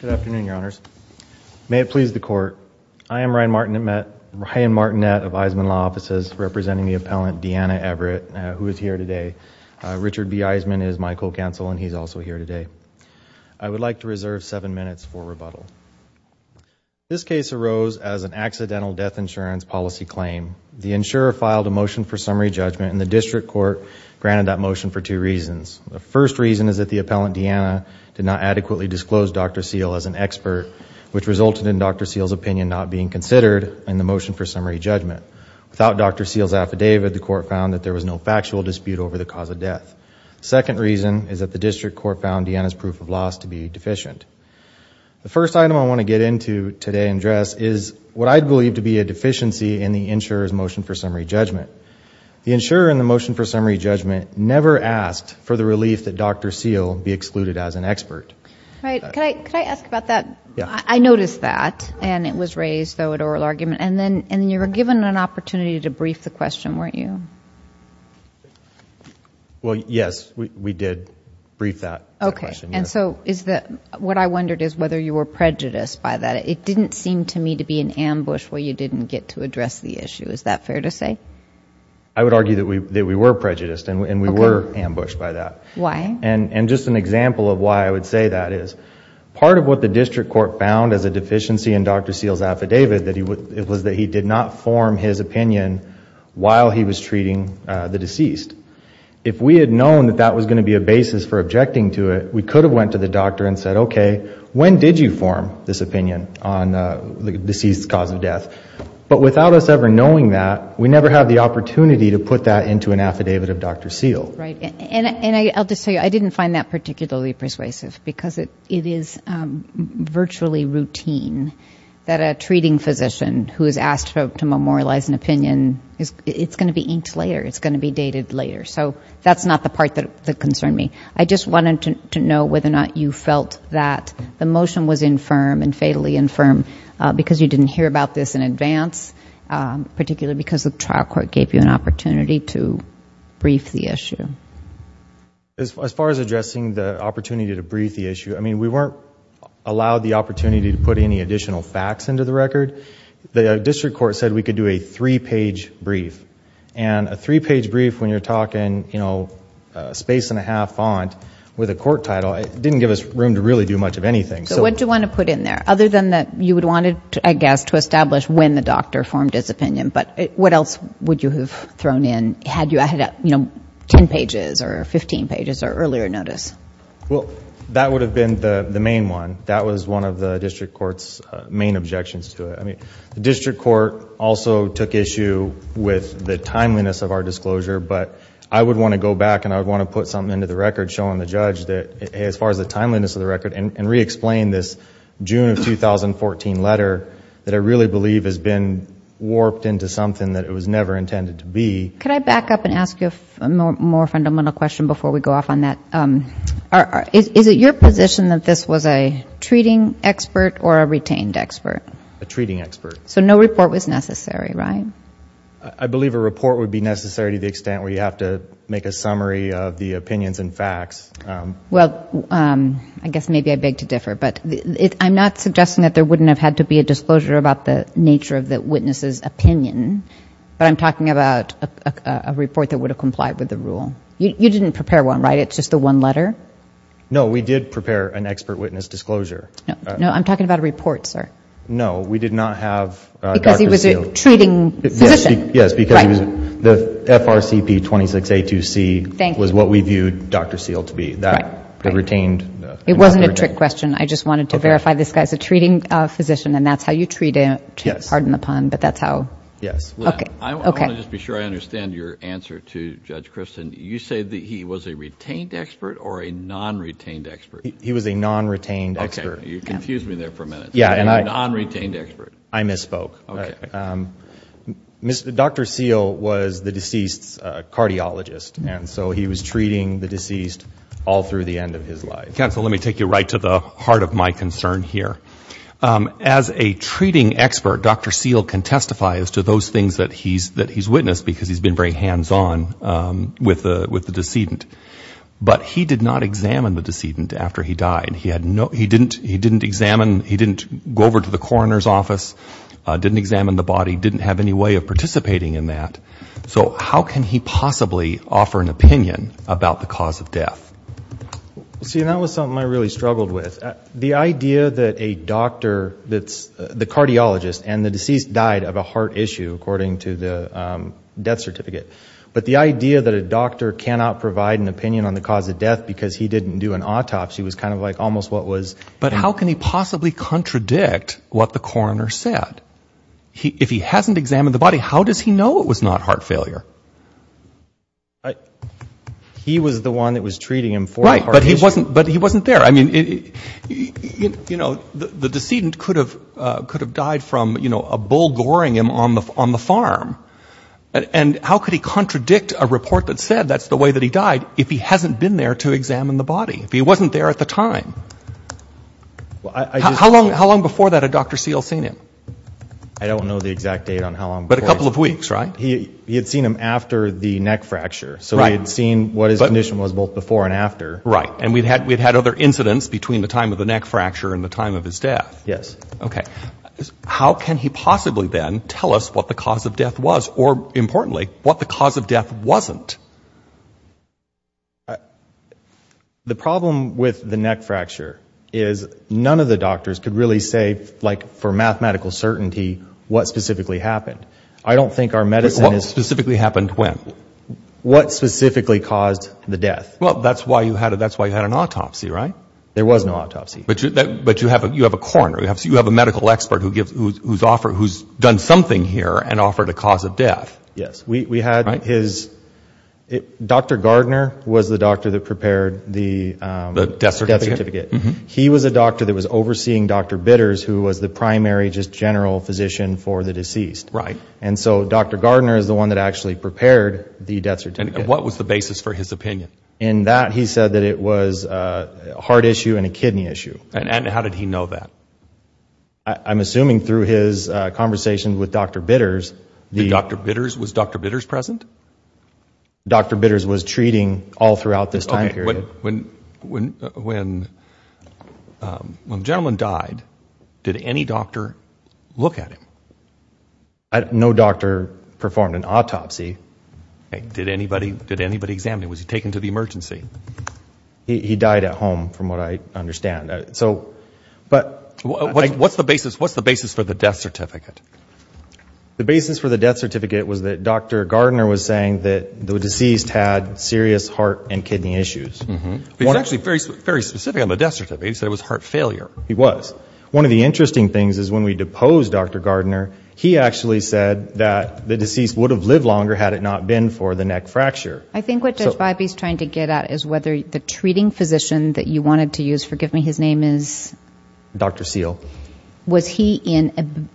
Good afternoon, Your Honors. May it please the Court, I am Ryan Martinette of Eisman Law Offices representing the appellant Deanna Everett who is here today. Richard B. Eisman is my co-counsel and he is also here today. I would like to reserve seven minutes for rebuttal. This case arose as an accidental death insurance policy claim. The insurer filed a motion for summary judgment and the District Court granted that motion for two reasons. The first reason is that the appellant Deanna did not adequately disclose Dr. Seale as an expert which resulted in Dr. Seale's opinion not being considered in the motion for summary judgment. Without Dr. Seale's affidavit, the Court found that there was no factual dispute over the cause of death. The second reason is that the District Court found Deanna's proof of loss to be deficient. The first item I want to get into today and address is what I believe to be a deficiency in the insurer's motion for summary judgment. The insurer in the motion for summary judgment never asked for the relief that Dr. Seale be excluded as an expert. Right. Could I ask about that? Yeah. I noticed that and it was raised though at oral argument and then you were given an opportunity to brief the question, weren't you? Well, yes. We did brief that question. Okay. And so what I wondered is whether you were prejudiced by that. It didn't seem to me to be an ambush where you didn't get to address the issue. Is that fair to say? I would argue that we were prejudiced and we were ambushed by that. Why? And just an example of why I would say that is, part of what the District Court found as a deficiency in Dr. Seale's affidavit, it was that he did not form his opinion while he was treating the deceased. If we had known that that was going to be a basis for objecting to it, we could have went to the doctor and said, okay, when did you form this opinion on the deceased's cause of death? But without us ever knowing that, we never had the opportunity to put that into an affidavit of Dr. Seale. Right. And I'll just tell you, I didn't find that particularly persuasive because it is virtually routine that a treating physician who is asked to memorialize an opinion, it's going to be inked later. It's going to be dated later. So that's not the part that concerned me. I just wanted to know whether or not you felt that the motion was infirm and fatally infirm because you didn't hear about this in advance, particularly because the trial court gave you an opportunity to brief the issue. As far as addressing the opportunity to brief the issue, I mean, we weren't allowed the opportunity to put any additional facts into the record. The District Court said we could do a three-page brief. And a three-page brief, when you're talking, you know, space and a half font with a court title, it didn't give us room to really do much of anything. So what do you want to put in there? Other than that, you would want to, I guess, to establish when the doctor formed his opinion. But what else would you have thrown in had you added up, you know, ten pages or fifteen pages or earlier notice? Well, that would have been the main one. That was one of the District Court's main objections to it. I mean, the District Court also took issue with the timeliness of our disclosure. But I would want to go back and I would want to put something into the record showing the 2014 letter that I really believe has been warped into something that it was never intended to be. Could I back up and ask you a more fundamental question before we go off on that? Is it your position that this was a treating expert or a retained expert? A treating expert. So no report was necessary, right? I believe a report would be necessary to the extent where you have to make a summary of the opinions and facts. Well, I guess maybe I beg to differ, but I'm not suggesting that there wouldn't have had to be a disclosure about the nature of the witness's opinion, but I'm talking about a report that would have complied with the rule. You didn't prepare one, right? It's just the one letter? No, we did prepare an expert witness disclosure. No, I'm talking about a report, sir. No, we did not have Dr. Seale. Because he was a treating physician. Yes, because the FRCP 26A2C was what we viewed Dr. Seale to be, the retained. It wasn't a trick question. I just wanted to verify this guy's a treating physician and that's how you treat a... pardon the pun, but that's how... Yes. Okay. I want to just be sure I understand your answer to Judge Christin. You say that he was a retained expert or a non-retained expert? He was a non-retained expert. You confused me there for a minute. He was a non-retained expert. I misspoke. Okay. Dr. Seale was the deceased's cardiologist, and so he was treating the deceased all through the end of his life. Counsel, let me take you right to the heart of my concern here. As a treating expert, Dr. Seale can testify as to those things that he's witnessed because he's been very hands-on with the decedent. But he did not examine the decedent after he died. He had no... he didn't examine... he didn't go over to the coroner's office, didn't examine the body, didn't have any way of participating in that. So how can he possibly offer an opinion about the cause of death? See, and that was something I really struggled with. The idea that a doctor that's... the cardiologist and the deceased died of a heart issue, according to the death certificate, but the idea that a doctor cannot provide an opinion on the cause of death because he didn't do an autopsy was kind of like almost what was... If he hasn't examined the body, how does he know it was not heart failure? He was the one that was treating him for the heart issue. Right, but he wasn't there. I mean, you know, the decedent could have died from, you know, a bull goring him on the farm. And how could he contradict a report that said that's the way that he died if he hasn't been there to examine the body, if he wasn't there at the time? How long before that had Dr. Seale seen him? I don't know the exact date on how long before. But a couple of weeks, right? He had seen him after the neck fracture, so he had seen what his condition was both before and after. Right, and we'd had other incidents between the time of the neck fracture and the time of his death. Yes. Okay. How can he possibly then tell us what the cause of death was or, importantly, what the cause of death wasn't? The problem with the neck fracture is none of the doctors could really say, like, for mathematical certainty, what specifically happened. I don't think our medicine is... What specifically happened when? What specifically caused the death? Well, that's why you had an autopsy, right? There was no autopsy. But you have a coroner. You have a medical expert who's done something here and offered a cause of death. Yes. We had his... Dr. Gardner was the doctor that prepared the death certificate. He was a doctor that was overseeing Dr. Bitters, who was the primary, just general physician for the deceased. And so Dr. Gardner is the one that actually prepared the death certificate. What was the basis for his opinion? In that, he said that it was a heart issue and a kidney issue. And how did he know that? I'm assuming through his conversations with Dr. Bitters... Dr. Bitters? Was Dr. Bitters present? Dr. Bitters was treating all throughout this time period. Okay. When the gentleman died, did any doctor look at him? No doctor performed an autopsy. Did anybody examine him? Was he taken to the emergency? He died at home, from what I understand. But... What's the basis for the death certificate? The basis for the death certificate was that Dr. Gardner was saying that the deceased had serious heart and kidney issues. He was actually very specific on the death certificate. He said it was heart failure. He was. One of the interesting things is when we deposed Dr. Gardner, he actually said that the deceased would have lived longer had it not been for the neck fracture. I think what Judge Biby is trying to get at is whether the treating physician that you wanted to use, forgive me, his name is... Dr. Seale. Was he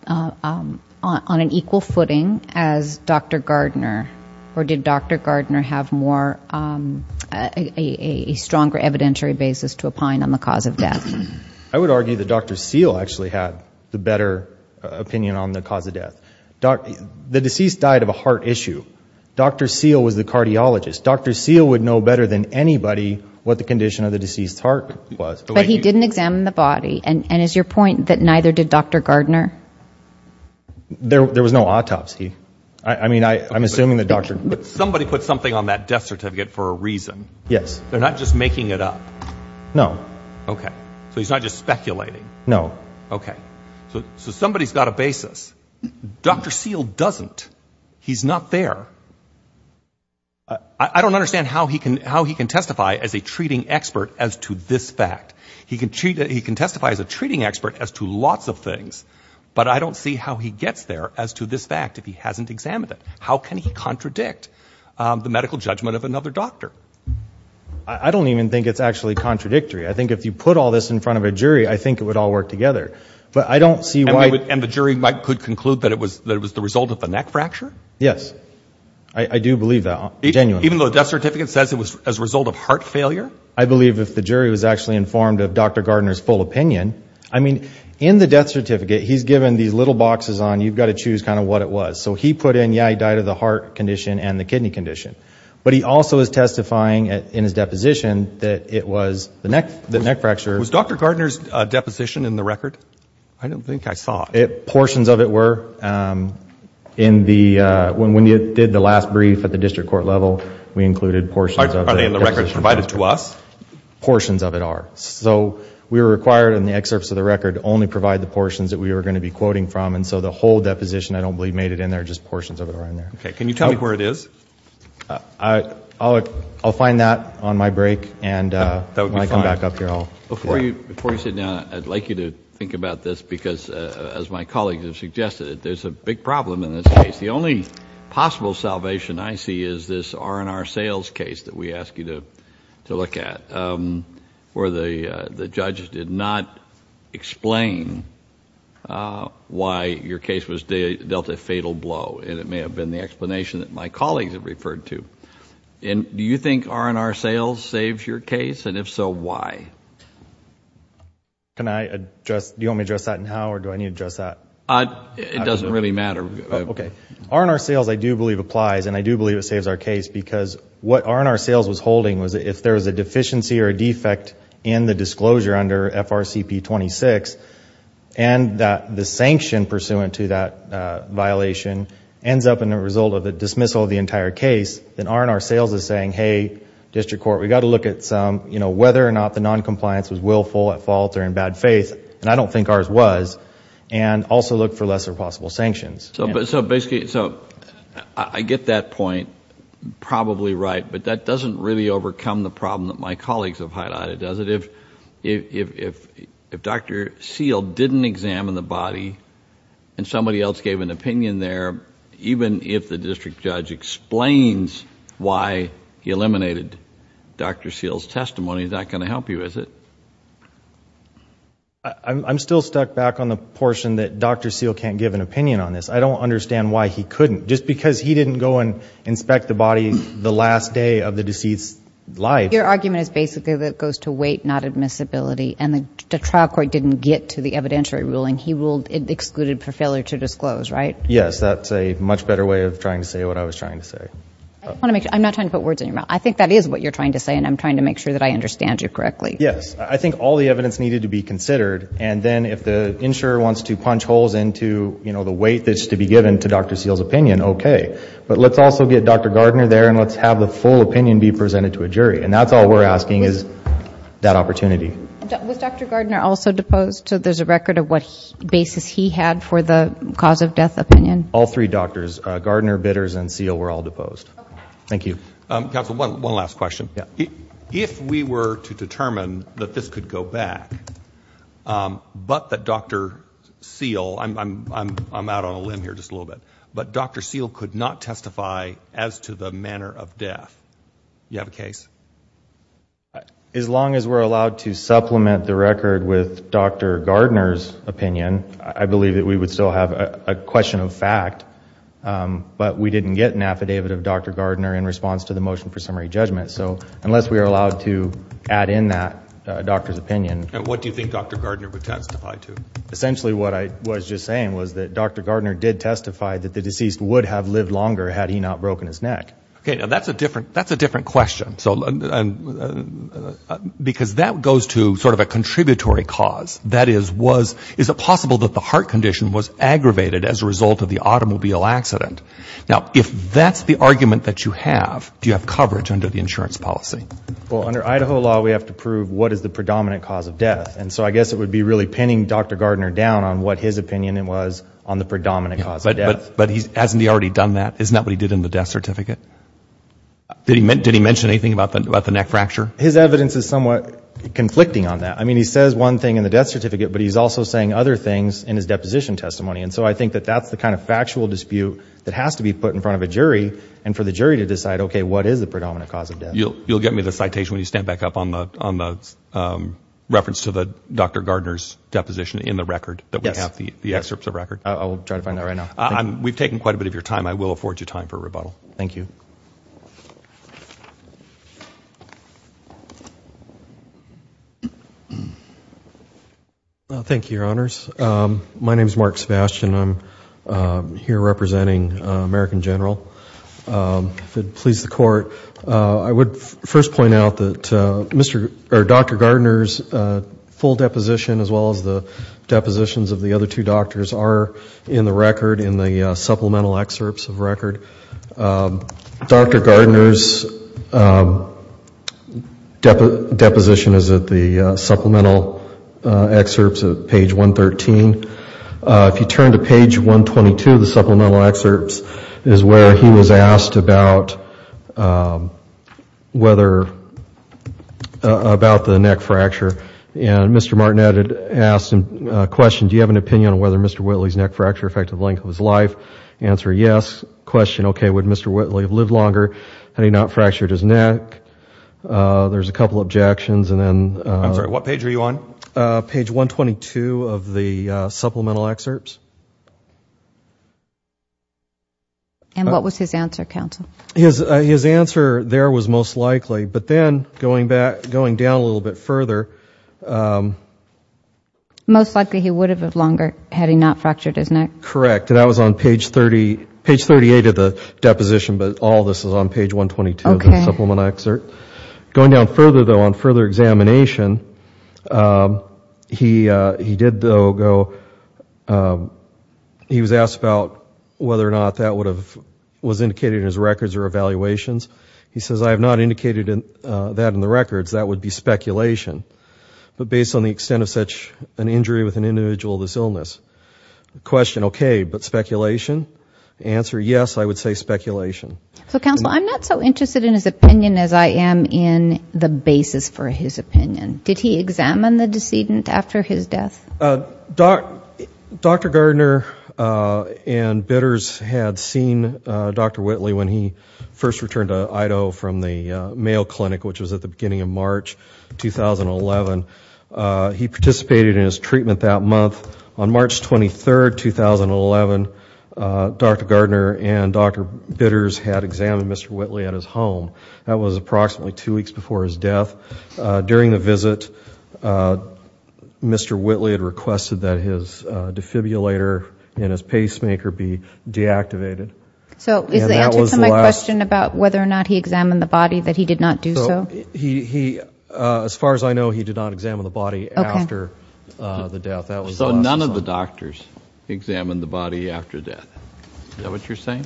on an equal footing as Dr. Gardner or did Dr. Gardner have a stronger evidentiary basis to opine on the cause of death? I would argue that Dr. Seale actually had the better opinion on the cause of death. The deceased died of a heart issue. Dr. Seale was the cardiologist. Dr. Seale would know better than anybody what the condition of the deceased's heart was. But he didn't examine the body, and is your point that neither did Dr. Gardner? There was no autopsy. I mean, I'm assuming the doctor... Somebody put something on that death certificate for a reason. Yes. They're not just making it up. No. Okay. So he's not just speculating. No. Okay. So somebody's got a basis. Dr. Seale doesn't. He's not there. I don't understand how he can testify as a treating expert as to this fact. He can testify as a treating expert as to lots of things, but I don't see how he gets there as to this fact if he hasn't examined it. How can he contradict the medical judgment of another doctor? I don't even think it's actually contradictory. I think if you put all this in front of a jury, I think it would all work together. But I don't see why... And the jury could conclude that it was the result of the neck fracture? Yes. I do believe that. Genuinely. Even though the death certificate says it was as a result of heart failure? I believe if the jury was actually informed of Dr. Gardner's full opinion... I mean, in the death certificate, he's given these little boxes on, you've got to choose kind of what it was. So he put in, yeah, he died of the heart condition and the kidney condition. But he also is testifying in his deposition that it was the neck fracture. Was Dr. Gardner's deposition in the record? I don't think I saw it. Portions of it were. When you did the last brief at the district court level, we included portions of it. Are they in the record provided to us? Portions of it are. So we were required in the excerpts of the record to only provide the portions that we were going to be quoting from. And so the whole deposition, I don't believe made it in there. Just portions of it are in there. Okay. Can you tell me where it is? I'll find that on my break. And when I come back up here, I'll... My colleagues have suggested that there's a big problem in this case. The only possible salvation I see is this R&R sales case that we asked you to look at where the judges did not explain why your case was dealt a fatal blow. And it may have been the explanation that my colleagues have referred to. And do you think R&R sales saves your case? And if so, why? Do you want me to address that now or do I need to address that? It doesn't really matter. Okay. R&R sales I do believe applies and I do believe it saves our case because what R&R sales was holding was if there was a deficiency or a defect in the disclosure under FRCP 26 and the sanction pursuant to that violation ends up in the result of the dismissal of the entire case, then R&R sales is saying, hey, district court, we've got to look at whether or not the noncompliance was willful at fault or in bad faith, and I don't think ours was, and also look for lesser possible sanctions. So basically, I get that point probably right, but that doesn't really overcome the problem that my colleagues have highlighted, does it? If Dr. Seale didn't examine the body and somebody else gave an opinion there, even if the district judge explains why he eliminated Dr. Seale's testimony, is that going to help you, is it? I'm still stuck back on the portion that Dr. Seale can't give an opinion on this. I don't understand why he couldn't. Just because he didn't go and inspect the body the last day of the deceased's life. Your argument is basically that it goes to weight, not admissibility, and the trial court didn't get to the evidentiary ruling. He ruled it excluded for failure to disclose, right? Yes, that's a much better way of trying to say what I was trying to say. I'm not trying to put words in your mouth. I think that is what you're trying to say, and I'm trying to make sure that I understand you correctly. Yes. I think all the evidence needed to be considered, and then if the insurer wants to punch holes into the weight that's to be given to Dr. Seale's opinion, okay. But let's also get Dr. Gardner there, and let's have the full opinion be presented to a jury, and that's all we're asking is that opportunity. Was Dr. Gardner also deposed? There's a record of what basis he had for the cause of death opinion? All three doctors, Gardner, Bitters, and Seale, were all deposed. Thank you. Counsel, one last question. If we were to determine that this could go back, but that Dr. Seale, I'm out on a limb here just a little bit, but Dr. Seale could not testify as to the manner of death, you have a case? As long as we're allowed to supplement the record with Dr. Gardner's opinion, I believe that we would still have a question of fact, but we didn't get an affidavit of Dr. Gardner in response to the motion for summary judgment, so unless we are allowed to add in that doctor's opinion And what do you think Dr. Gardner would testify to? Essentially what I was just saying was that Dr. Gardner did testify that the deceased would have lived longer had he not broken his neck. Okay, now that's a different question. Because that goes to sort of a contributory cause, that is, is it possible that the heart condition was aggravated as a result of the automobile accident? Now if that's the argument that you have, do you have coverage under the insurance policy? Well, under Idaho law, we have to prove what is the predominant cause of death, and so I guess it would be really pinning Dr. Gardner down on what his opinion was on the predominant cause of death. But hasn't he already done that? Isn't that what he did in the death certificate? Did he mention anything about the neck fracture? His evidence is somewhat conflicting on that. I mean, he says one thing in the death certificate, but he's also saying other things in his deposition testimony. And so I think that that's the kind of factual dispute that has to be put in front of a jury and for the jury to decide, okay, what is the predominant cause of death? You'll get me the citation when you stand back up on the reference to Dr. Gardner's deposition in the record that we have, the excerpts of record. I will try to find that right now. We've taken quite a bit of your time. I will afford you time for rebuttal. Thank you. Thank you, Your Honors. My name is Mark Sebastian. I'm here representing American General. If it pleases the Court, I would first point out that Dr. Gardner's full deposition as well as the depositions of the other two doctors are in the record, in the supplemental excerpts of record. Dr. Gardner's deposition is at the supplemental excerpts at page 113. If you turn to page 122, the supplemental excerpts is where he was asked about whether – about the neck fracture. And Mr. Martinette had asked him a question, do you have an opinion on whether Mr. Whitley's neck fracture affected the length of his life? Answer, yes. Question, okay, would Mr. Whitley have lived longer had he not fractured his neck? There's a couple of objections and then – I'm sorry, what page are you on? Page 122 of the supplemental excerpts. And what was his answer, counsel? His answer there was most likely, but then going down a little bit further – Most likely he would have lived longer had he not fractured his neck. Correct. Correct. And that was on page 30 – page 38 of the deposition, but all this is on page 122 of the supplemental excerpt. Okay. Going down further though, on further examination, he did though go – he was asked about whether or not that would have – was indicated in his records or evaluations. He says, I have not indicated that in the records. That would be speculation. But based on the extent of such an injury with an individual of this illness, the question Okay, but speculation? The answer, yes, I would say speculation. So, counsel, I'm not so interested in his opinion as I am in the basis for his opinion. Did he examine the decedent after his death? Dr. Gardner and bidders had seen Dr. Whitley when he first returned to Idaho from the Mayo Clinic, which was at the beginning of March 2011. He participated in his treatment that month. On March 23, 2011, Dr. Gardner and Dr. Bidders had examined Mr. Whitley at his home. That was approximately two weeks before his death. During the visit, Mr. Whitley had requested that his defibrillator and his pacemaker be deactivated. So, is the answer to my question about whether or not he examined the body that he did not do so? So, he – as far as I know, he did not examine the body after the death. So, none of the doctors examined the body after death. Is that what you're saying?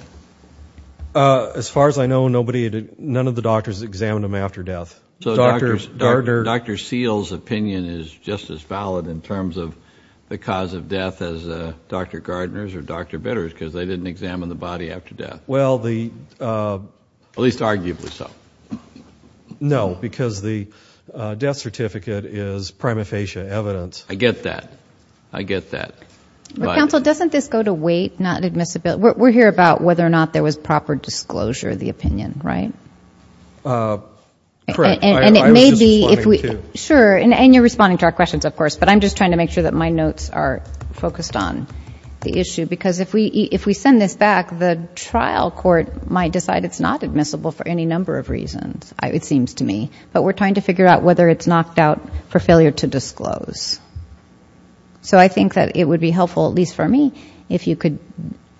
As far as I know, nobody – none of the doctors examined him after death. So, Dr. Seale's opinion is just as valid in terms of the cause of death as Dr. Gardner's or Dr. Bidder's because they didn't examine the body after death. Well, the – At least arguably so. No, because the death certificate is prima facie evidence. I get that. I get that. But – Counsel, doesn't this go to wait, not admissibility? We're here about whether or not there was proper disclosure of the opinion, right? Correct. And it may be – I was just responding, too. Sure. And you're responding to our questions, of course, but I'm just trying to make sure that my notes are focused on the issue because if we send this back, the trial court might decide it's not admissible for any number of reasons, it seems to me, but we're trying to figure out whether it's knocked out for failure to disclose. So I think that it would be helpful, at least for me, if you could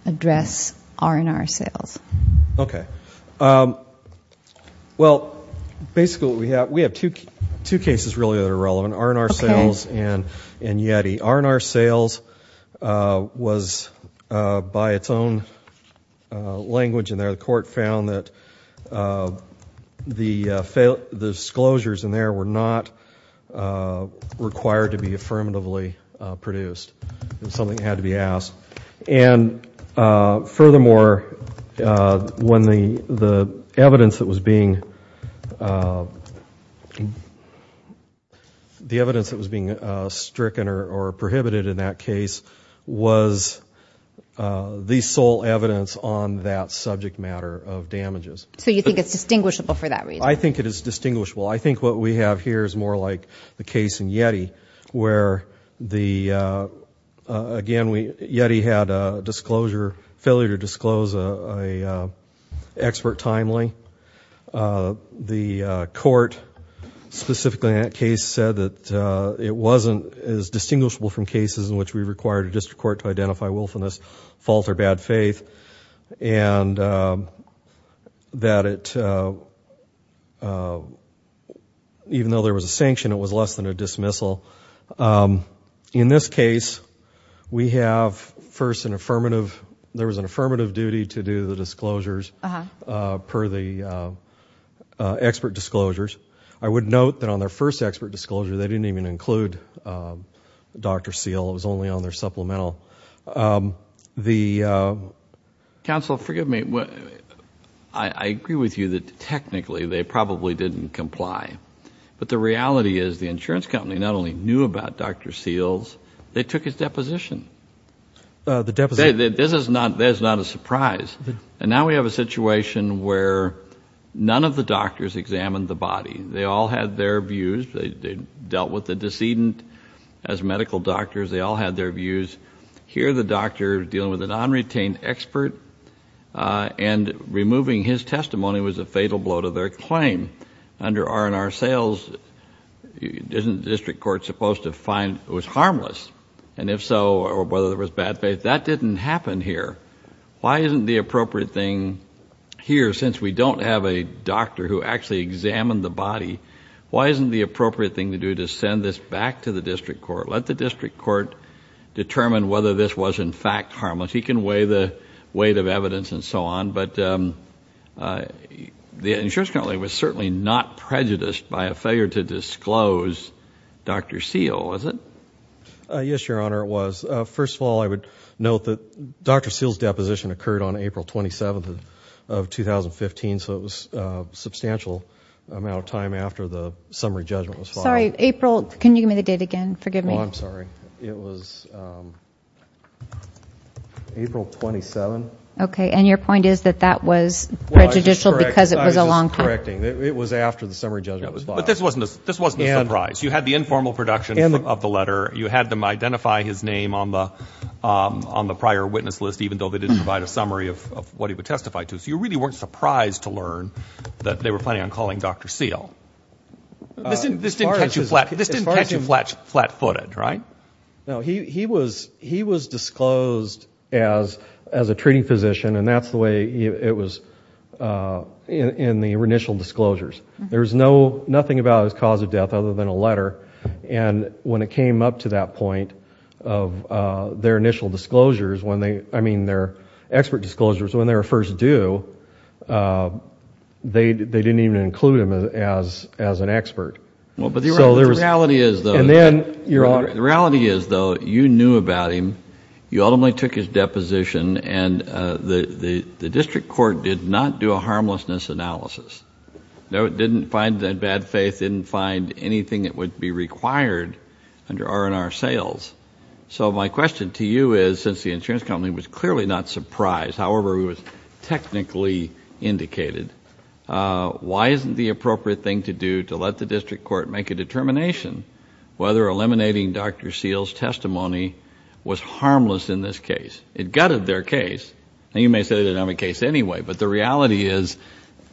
address R&R sales. Okay. Well, basically what we have – we have two cases really that are relevant, R&R sales and YETI. Okay. R&R sales was, by its own language in there, the court found that the disclosure in there were not required to be affirmatively produced. It was something that had to be asked. And furthermore, when the evidence that was being – the evidence that was being stricken or prohibited in that case was the sole evidence on that subject matter of damages. So you think it's distinguishable for that reason? I think it is distinguishable. I think what we have here is more like the case in YETI where the – again, YETI had a disclosure – failure to disclose an expert timely. The court, specifically in that case, said that it wasn't as distinguishable from cases in which we required a district court to identify willfulness, fault, or bad faith, and that it – even though there was a sanction, it was less than a dismissal. In this case, we have first an affirmative – there was an affirmative duty to do the disclosures per the expert disclosures. I would note that on their first expert disclosure, they didn't even include Dr. Seale. It was only on their supplemental. The – Counsel, forgive me. I agree with you that technically they probably didn't comply, but the reality is the insurance company not only knew about Dr. Seale's, they took his deposition. The deposition – This is not – that is not a surprise. And now we have a situation where none of the doctors examined the body. They all had their views. They dealt with the decedent as medical doctors. They all had their views. Here the doctor is dealing with a non-retained expert and removing his testimony was a fatal blow to their claim. Under R&R Seales, isn't the district court supposed to find it was harmless? And if so, or whether there was bad faith, that didn't happen here. Why isn't the appropriate thing here, since we don't have a doctor who actually examined the body, why isn't the appropriate thing to do to send this back to the district court? Let the district court determine whether this was in fact harmless. He can weigh the weight of evidence and so on, but the insurance company was certainly not prejudiced by a failure to disclose Dr. Seale, was it? Yes, Your Honor, it was. First of all, I would note that Dr. Seale's deposition occurred on April 27th of 2015, so it was a substantial amount of time after the summary judgment was filed. Sorry, April, can you give me the date again? Forgive me. Oh, I'm sorry. It was April 27th. Okay, and your point is that that was prejudicial because it was a long time. I was just correcting. It was after the summary judgment was filed. But this wasn't a surprise. You had the informal production of the letter. You had them identify his name on the prior witness list, even though they didn't provide a summary of what he would testify to. So you really weren't surprised to learn that they were planning on calling Dr. Seale. This didn't catch you flat-footed, right? No, he was disclosed as a treating physician, and that's the way it was in the initial disclosures. There was nothing about his cause of death other than a letter, and when it came up to that point of their initial disclosures, I mean their expert disclosures, when they were first due, they didn't even include him as an expert. The reality is, though, you knew about him. You ultimately took his deposition, and the district court did not do a harmlessness analysis. No, it didn't find that bad faith, didn't find anything that would be required under R&R sales. So my question to you is, since the insurance company was clearly not surprised, however it was technically indicated, why isn't the appropriate thing to do to let the district court make a determination whether eliminating Dr. Seale's testimony was harmless in this case? It gutted their case. Now, you may say it didn't have a case anyway, but the reality is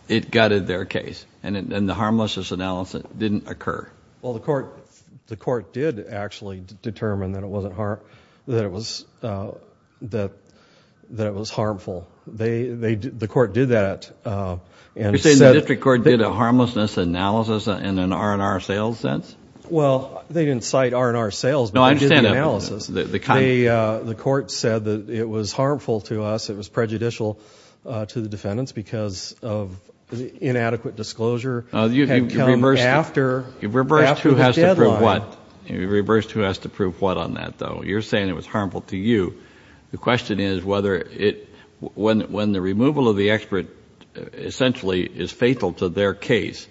it gutted their case, and the harmlessness analysis didn't occur. Well, the court did actually determine that it was harmful. The court did that. You're saying the district court did a harmlessness analysis in an R&R sales sense? Well, they didn't cite R&R sales, but they did the analysis. The court said that it was harmful to us, it was prejudicial to the defendants because inadequate disclosure had come after the deadline. You've reversed who has to prove what. You've reversed who has to prove what on that, though. You're saying it was harmful to you. The question is whether it... when the removal of the expert essentially is fatal to their case,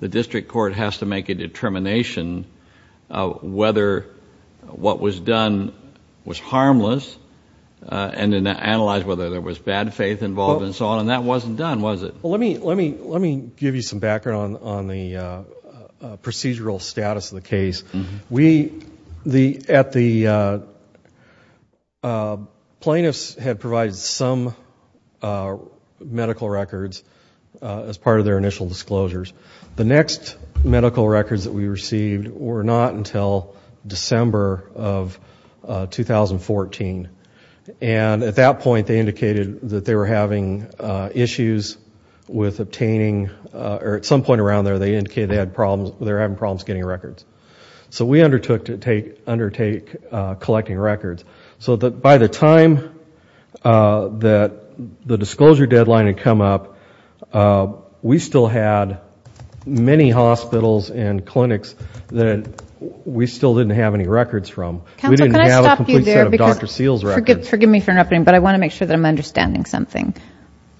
the district court has to make a determination whether what was done was harmless and then analyze whether there was bad faith involved and so on, and that wasn't done, was it? Well, let me give you some background on the procedural status of the case. Plaintiffs had provided some medical records as part of their initial disclosures. The next medical records that we received were not until December of 2014, and at that point they indicated that they were having issues with obtaining... or at some point around there they indicated they were having problems getting records. So we undertook to undertake collecting records. So by the time that the disclosure deadline had come up, we still had many hospitals and clinics that we still didn't have any records from. Counsel, can I stop you there? We didn't have a complete set of Dr. Seals records. Forgive me for interrupting, but I want to make sure that I'm understanding something.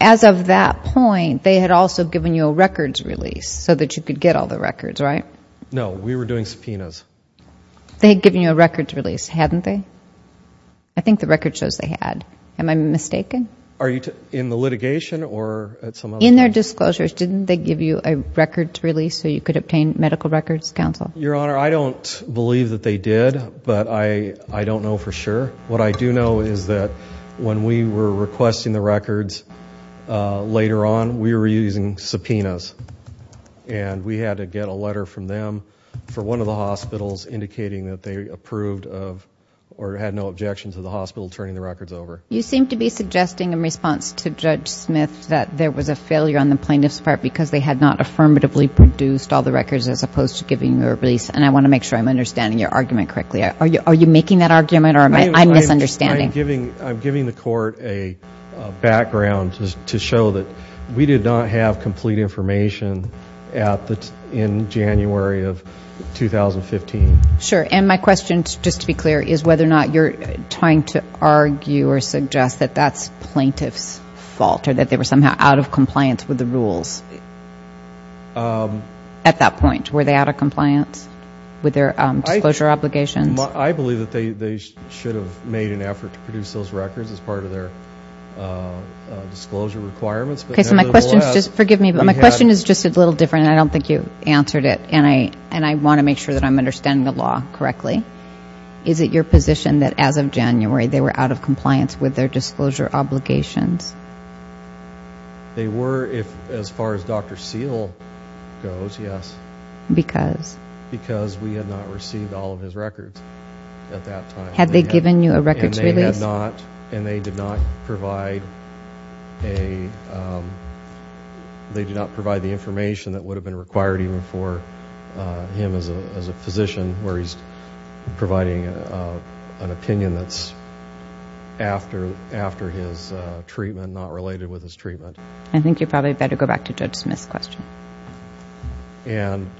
As of that point, they had also given you a records release so that you could get all the records, right? No, we were doing subpoenas. They had given you a records release, hadn't they? I think the records shows they had. Am I mistaken? In the litigation or at some other... so you could obtain medical records, Counsel? Your Honor, I don't believe that they did, but I don't know for sure. What I do know is that when we were requesting the records later on, we were using subpoenas, and we had to get a letter from them for one of the hospitals indicating that they approved of or had no objection to the hospital turning the records over. You seem to be suggesting in response to Judge Smith that there was a failure on the plaintiff's part because they had not affirmatively produced all the records as opposed to giving you a release, and I want to make sure I'm understanding your argument correctly. Are you making that argument or am I misunderstanding? I'm giving the Court a background to show that we did not have complete information in January of 2015. Sure, and my question, just to be clear, is whether or not you're trying to argue or suggest that that's plaintiff's fault or that they were somehow out of compliance with the rules at that point. Were they out of compliance with their disclosure obligations? I believe that they should have made an effort to produce those records as part of their disclosure requirements. Okay, so my question is just a little different, and I don't think you answered it, and I want to make sure that I'm understanding the law correctly. Is it your position that as of January they were out of compliance with their disclosure obligations? They were as far as Dr. Seale goes, yes. Because? Because we had not received all of his records at that time. Had they given you a records release? And they did not provide the information that would have been required even for him as a physician where he's providing an opinion that's after his treatment, not related with his treatment. I think you probably better go back to Judge Smith's question. And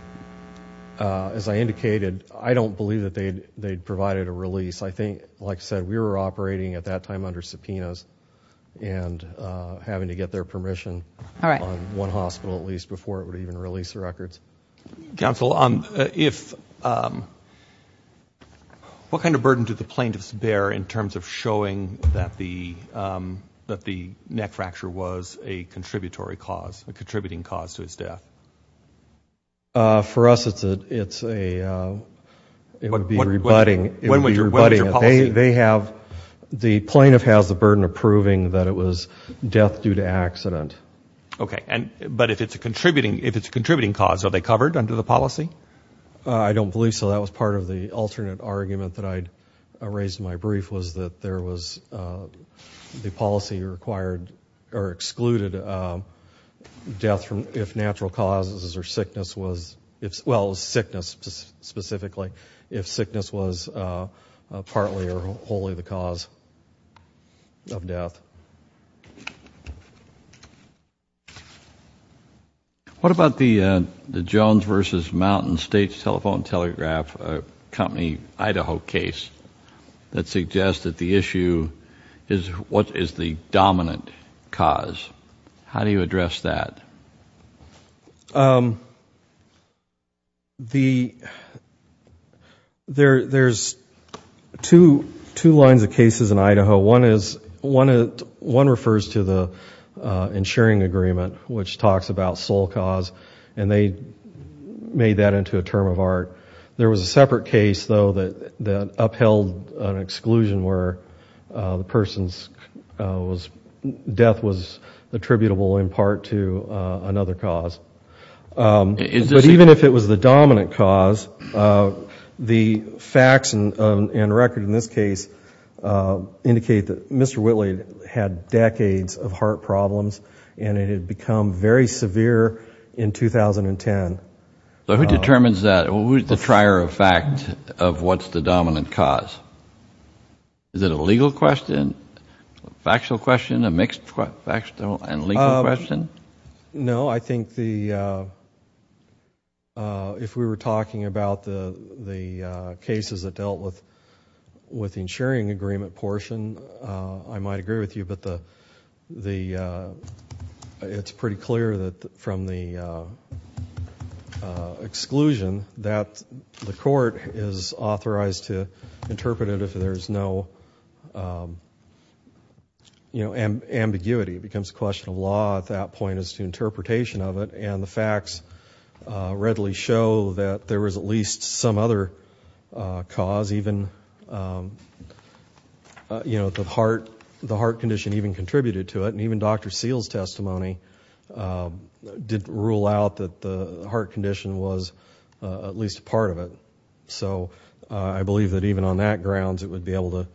as I indicated, I don't believe that they provided a release. I think, like I said, we were operating at that time under subpoenas before it would even release the records. Counsel, what kind of burden did the plaintiffs bear in terms of showing that the neck fracture was a contributory cause, a contributing cause to his death? For us, it would be rebutting. When was your policy? The plaintiff has the burden of proving that it was death due to accident. Okay. But if it's a contributing cause, are they covered under the policy? I don't believe so. That was part of the alternate argument that I raised in my brief, was that the policy excluded death if natural causes or sickness was, if sickness was partly or wholly the cause of death. What about the Jones v. Mountain State Telephone Telegraph Company, Idaho case that suggests that the issue is what is the dominant cause? How do you address that? There's two lines of cases in Idaho. One refers to the insuring agreement, which talks about sole cause, and they made that into a term of art. There was a separate case, though, that upheld an exclusion where the person's death was attributable in part to another cause. But even if it was the dominant cause, the facts and record in this case indicate that Mr. Whitley had decades of heart problems and it had become very severe in 2010. Who determines that? Who's the trier of fact of what's the dominant cause? Is it a legal question, a factual question, a mixed factual and legal question? No, I think if we were talking about the cases that dealt with the insuring agreement portion, I might agree with you, but it's pretty clear that from the exclusion that the court is authorized to interpret it if there's no ambiguity. It becomes a question of law at that point as to interpretation of it, and the facts readily show that there was at least some other cause, because even the heart condition even contributed to it, and even Dr. Seale's testimony did rule out that the heart condition was at least a part of it. So I believe that even on that grounds it would be able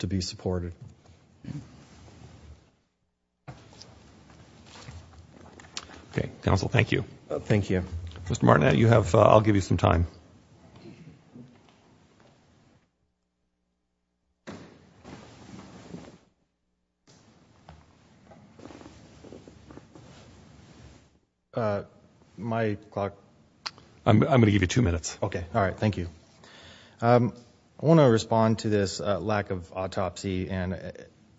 to be supported. Okay, counsel, thank you. Thank you. Mr. Martinet, I'll give you some time. My clock. I'm going to give you two minutes. Okay. All right, thank you. I want to respond to this lack of autopsy and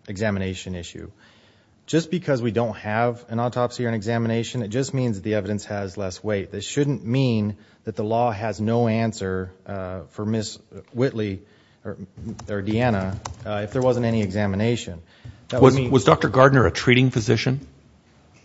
examination issue. Just because we don't have an autopsy or an examination, it just means the evidence has less weight. This shouldn't mean that the law has no answer for Ms. Whitley or Deanna if there wasn't any examination. Was Dr. Gardner a treating physician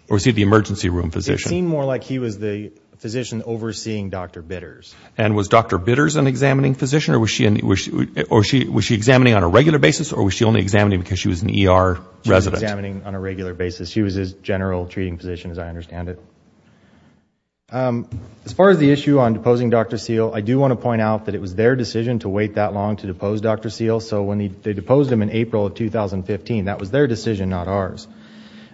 or was he the emergency room physician? It seemed more like he was the physician overseeing Dr. Bitters. And was Dr. Bitters an examining physician, or was she examining on a regular basis, or was she only examining because she was an ER resident? She was examining on a regular basis. She was his general treating physician, as I understand it. As far as the issue on deposing Dr. Seale, I do want to point out that it was their decision to wait that long to depose Dr. Seale. So when they deposed him in April of 2015, that was their decision, not ours.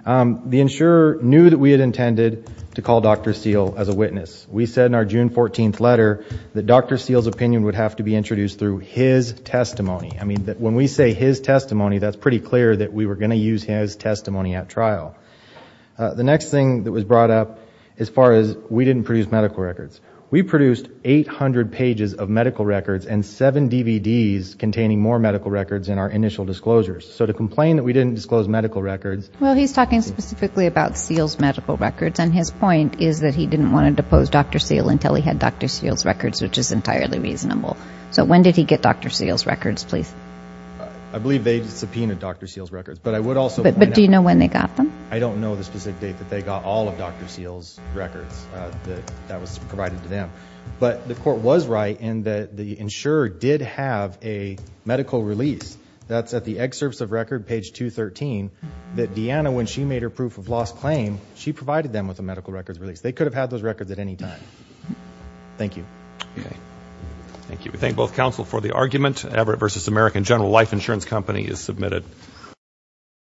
The insurer knew that we had intended to call Dr. Seale as a witness. We said in our June 14th letter that Dr. Seale's opinion would have to be introduced through his testimony. I mean, when we say his testimony, that's pretty clear that we were going to use his testimony at trial. The next thing that was brought up as far as we didn't produce medical records, we produced 800 pages of medical records and seven DVDs containing more medical records than our initial disclosures. So to complain that we didn't disclose medical records. Well, he's talking specifically about Seale's medical records, and his point is that he didn't want to depose Dr. Seale until he had Dr. Seale's records, which is entirely reasonable. So when did he get Dr. Seale's records, please? I believe they subpoenaed Dr. Seale's records. But do you know when they got them? I don't know the specific date that they got all of Dr. Seale's records that was provided to them. But the court was right in that the insurer did have a medical release. That's at the excerpts of record, page 213, that Deanna, when she made her proof of loss claim, she provided them with a medical records release. They could have had those records at any time. Thank you. Thank you. We thank both counsel for the argument. Everett v. American General Life Insurance Company is submitted.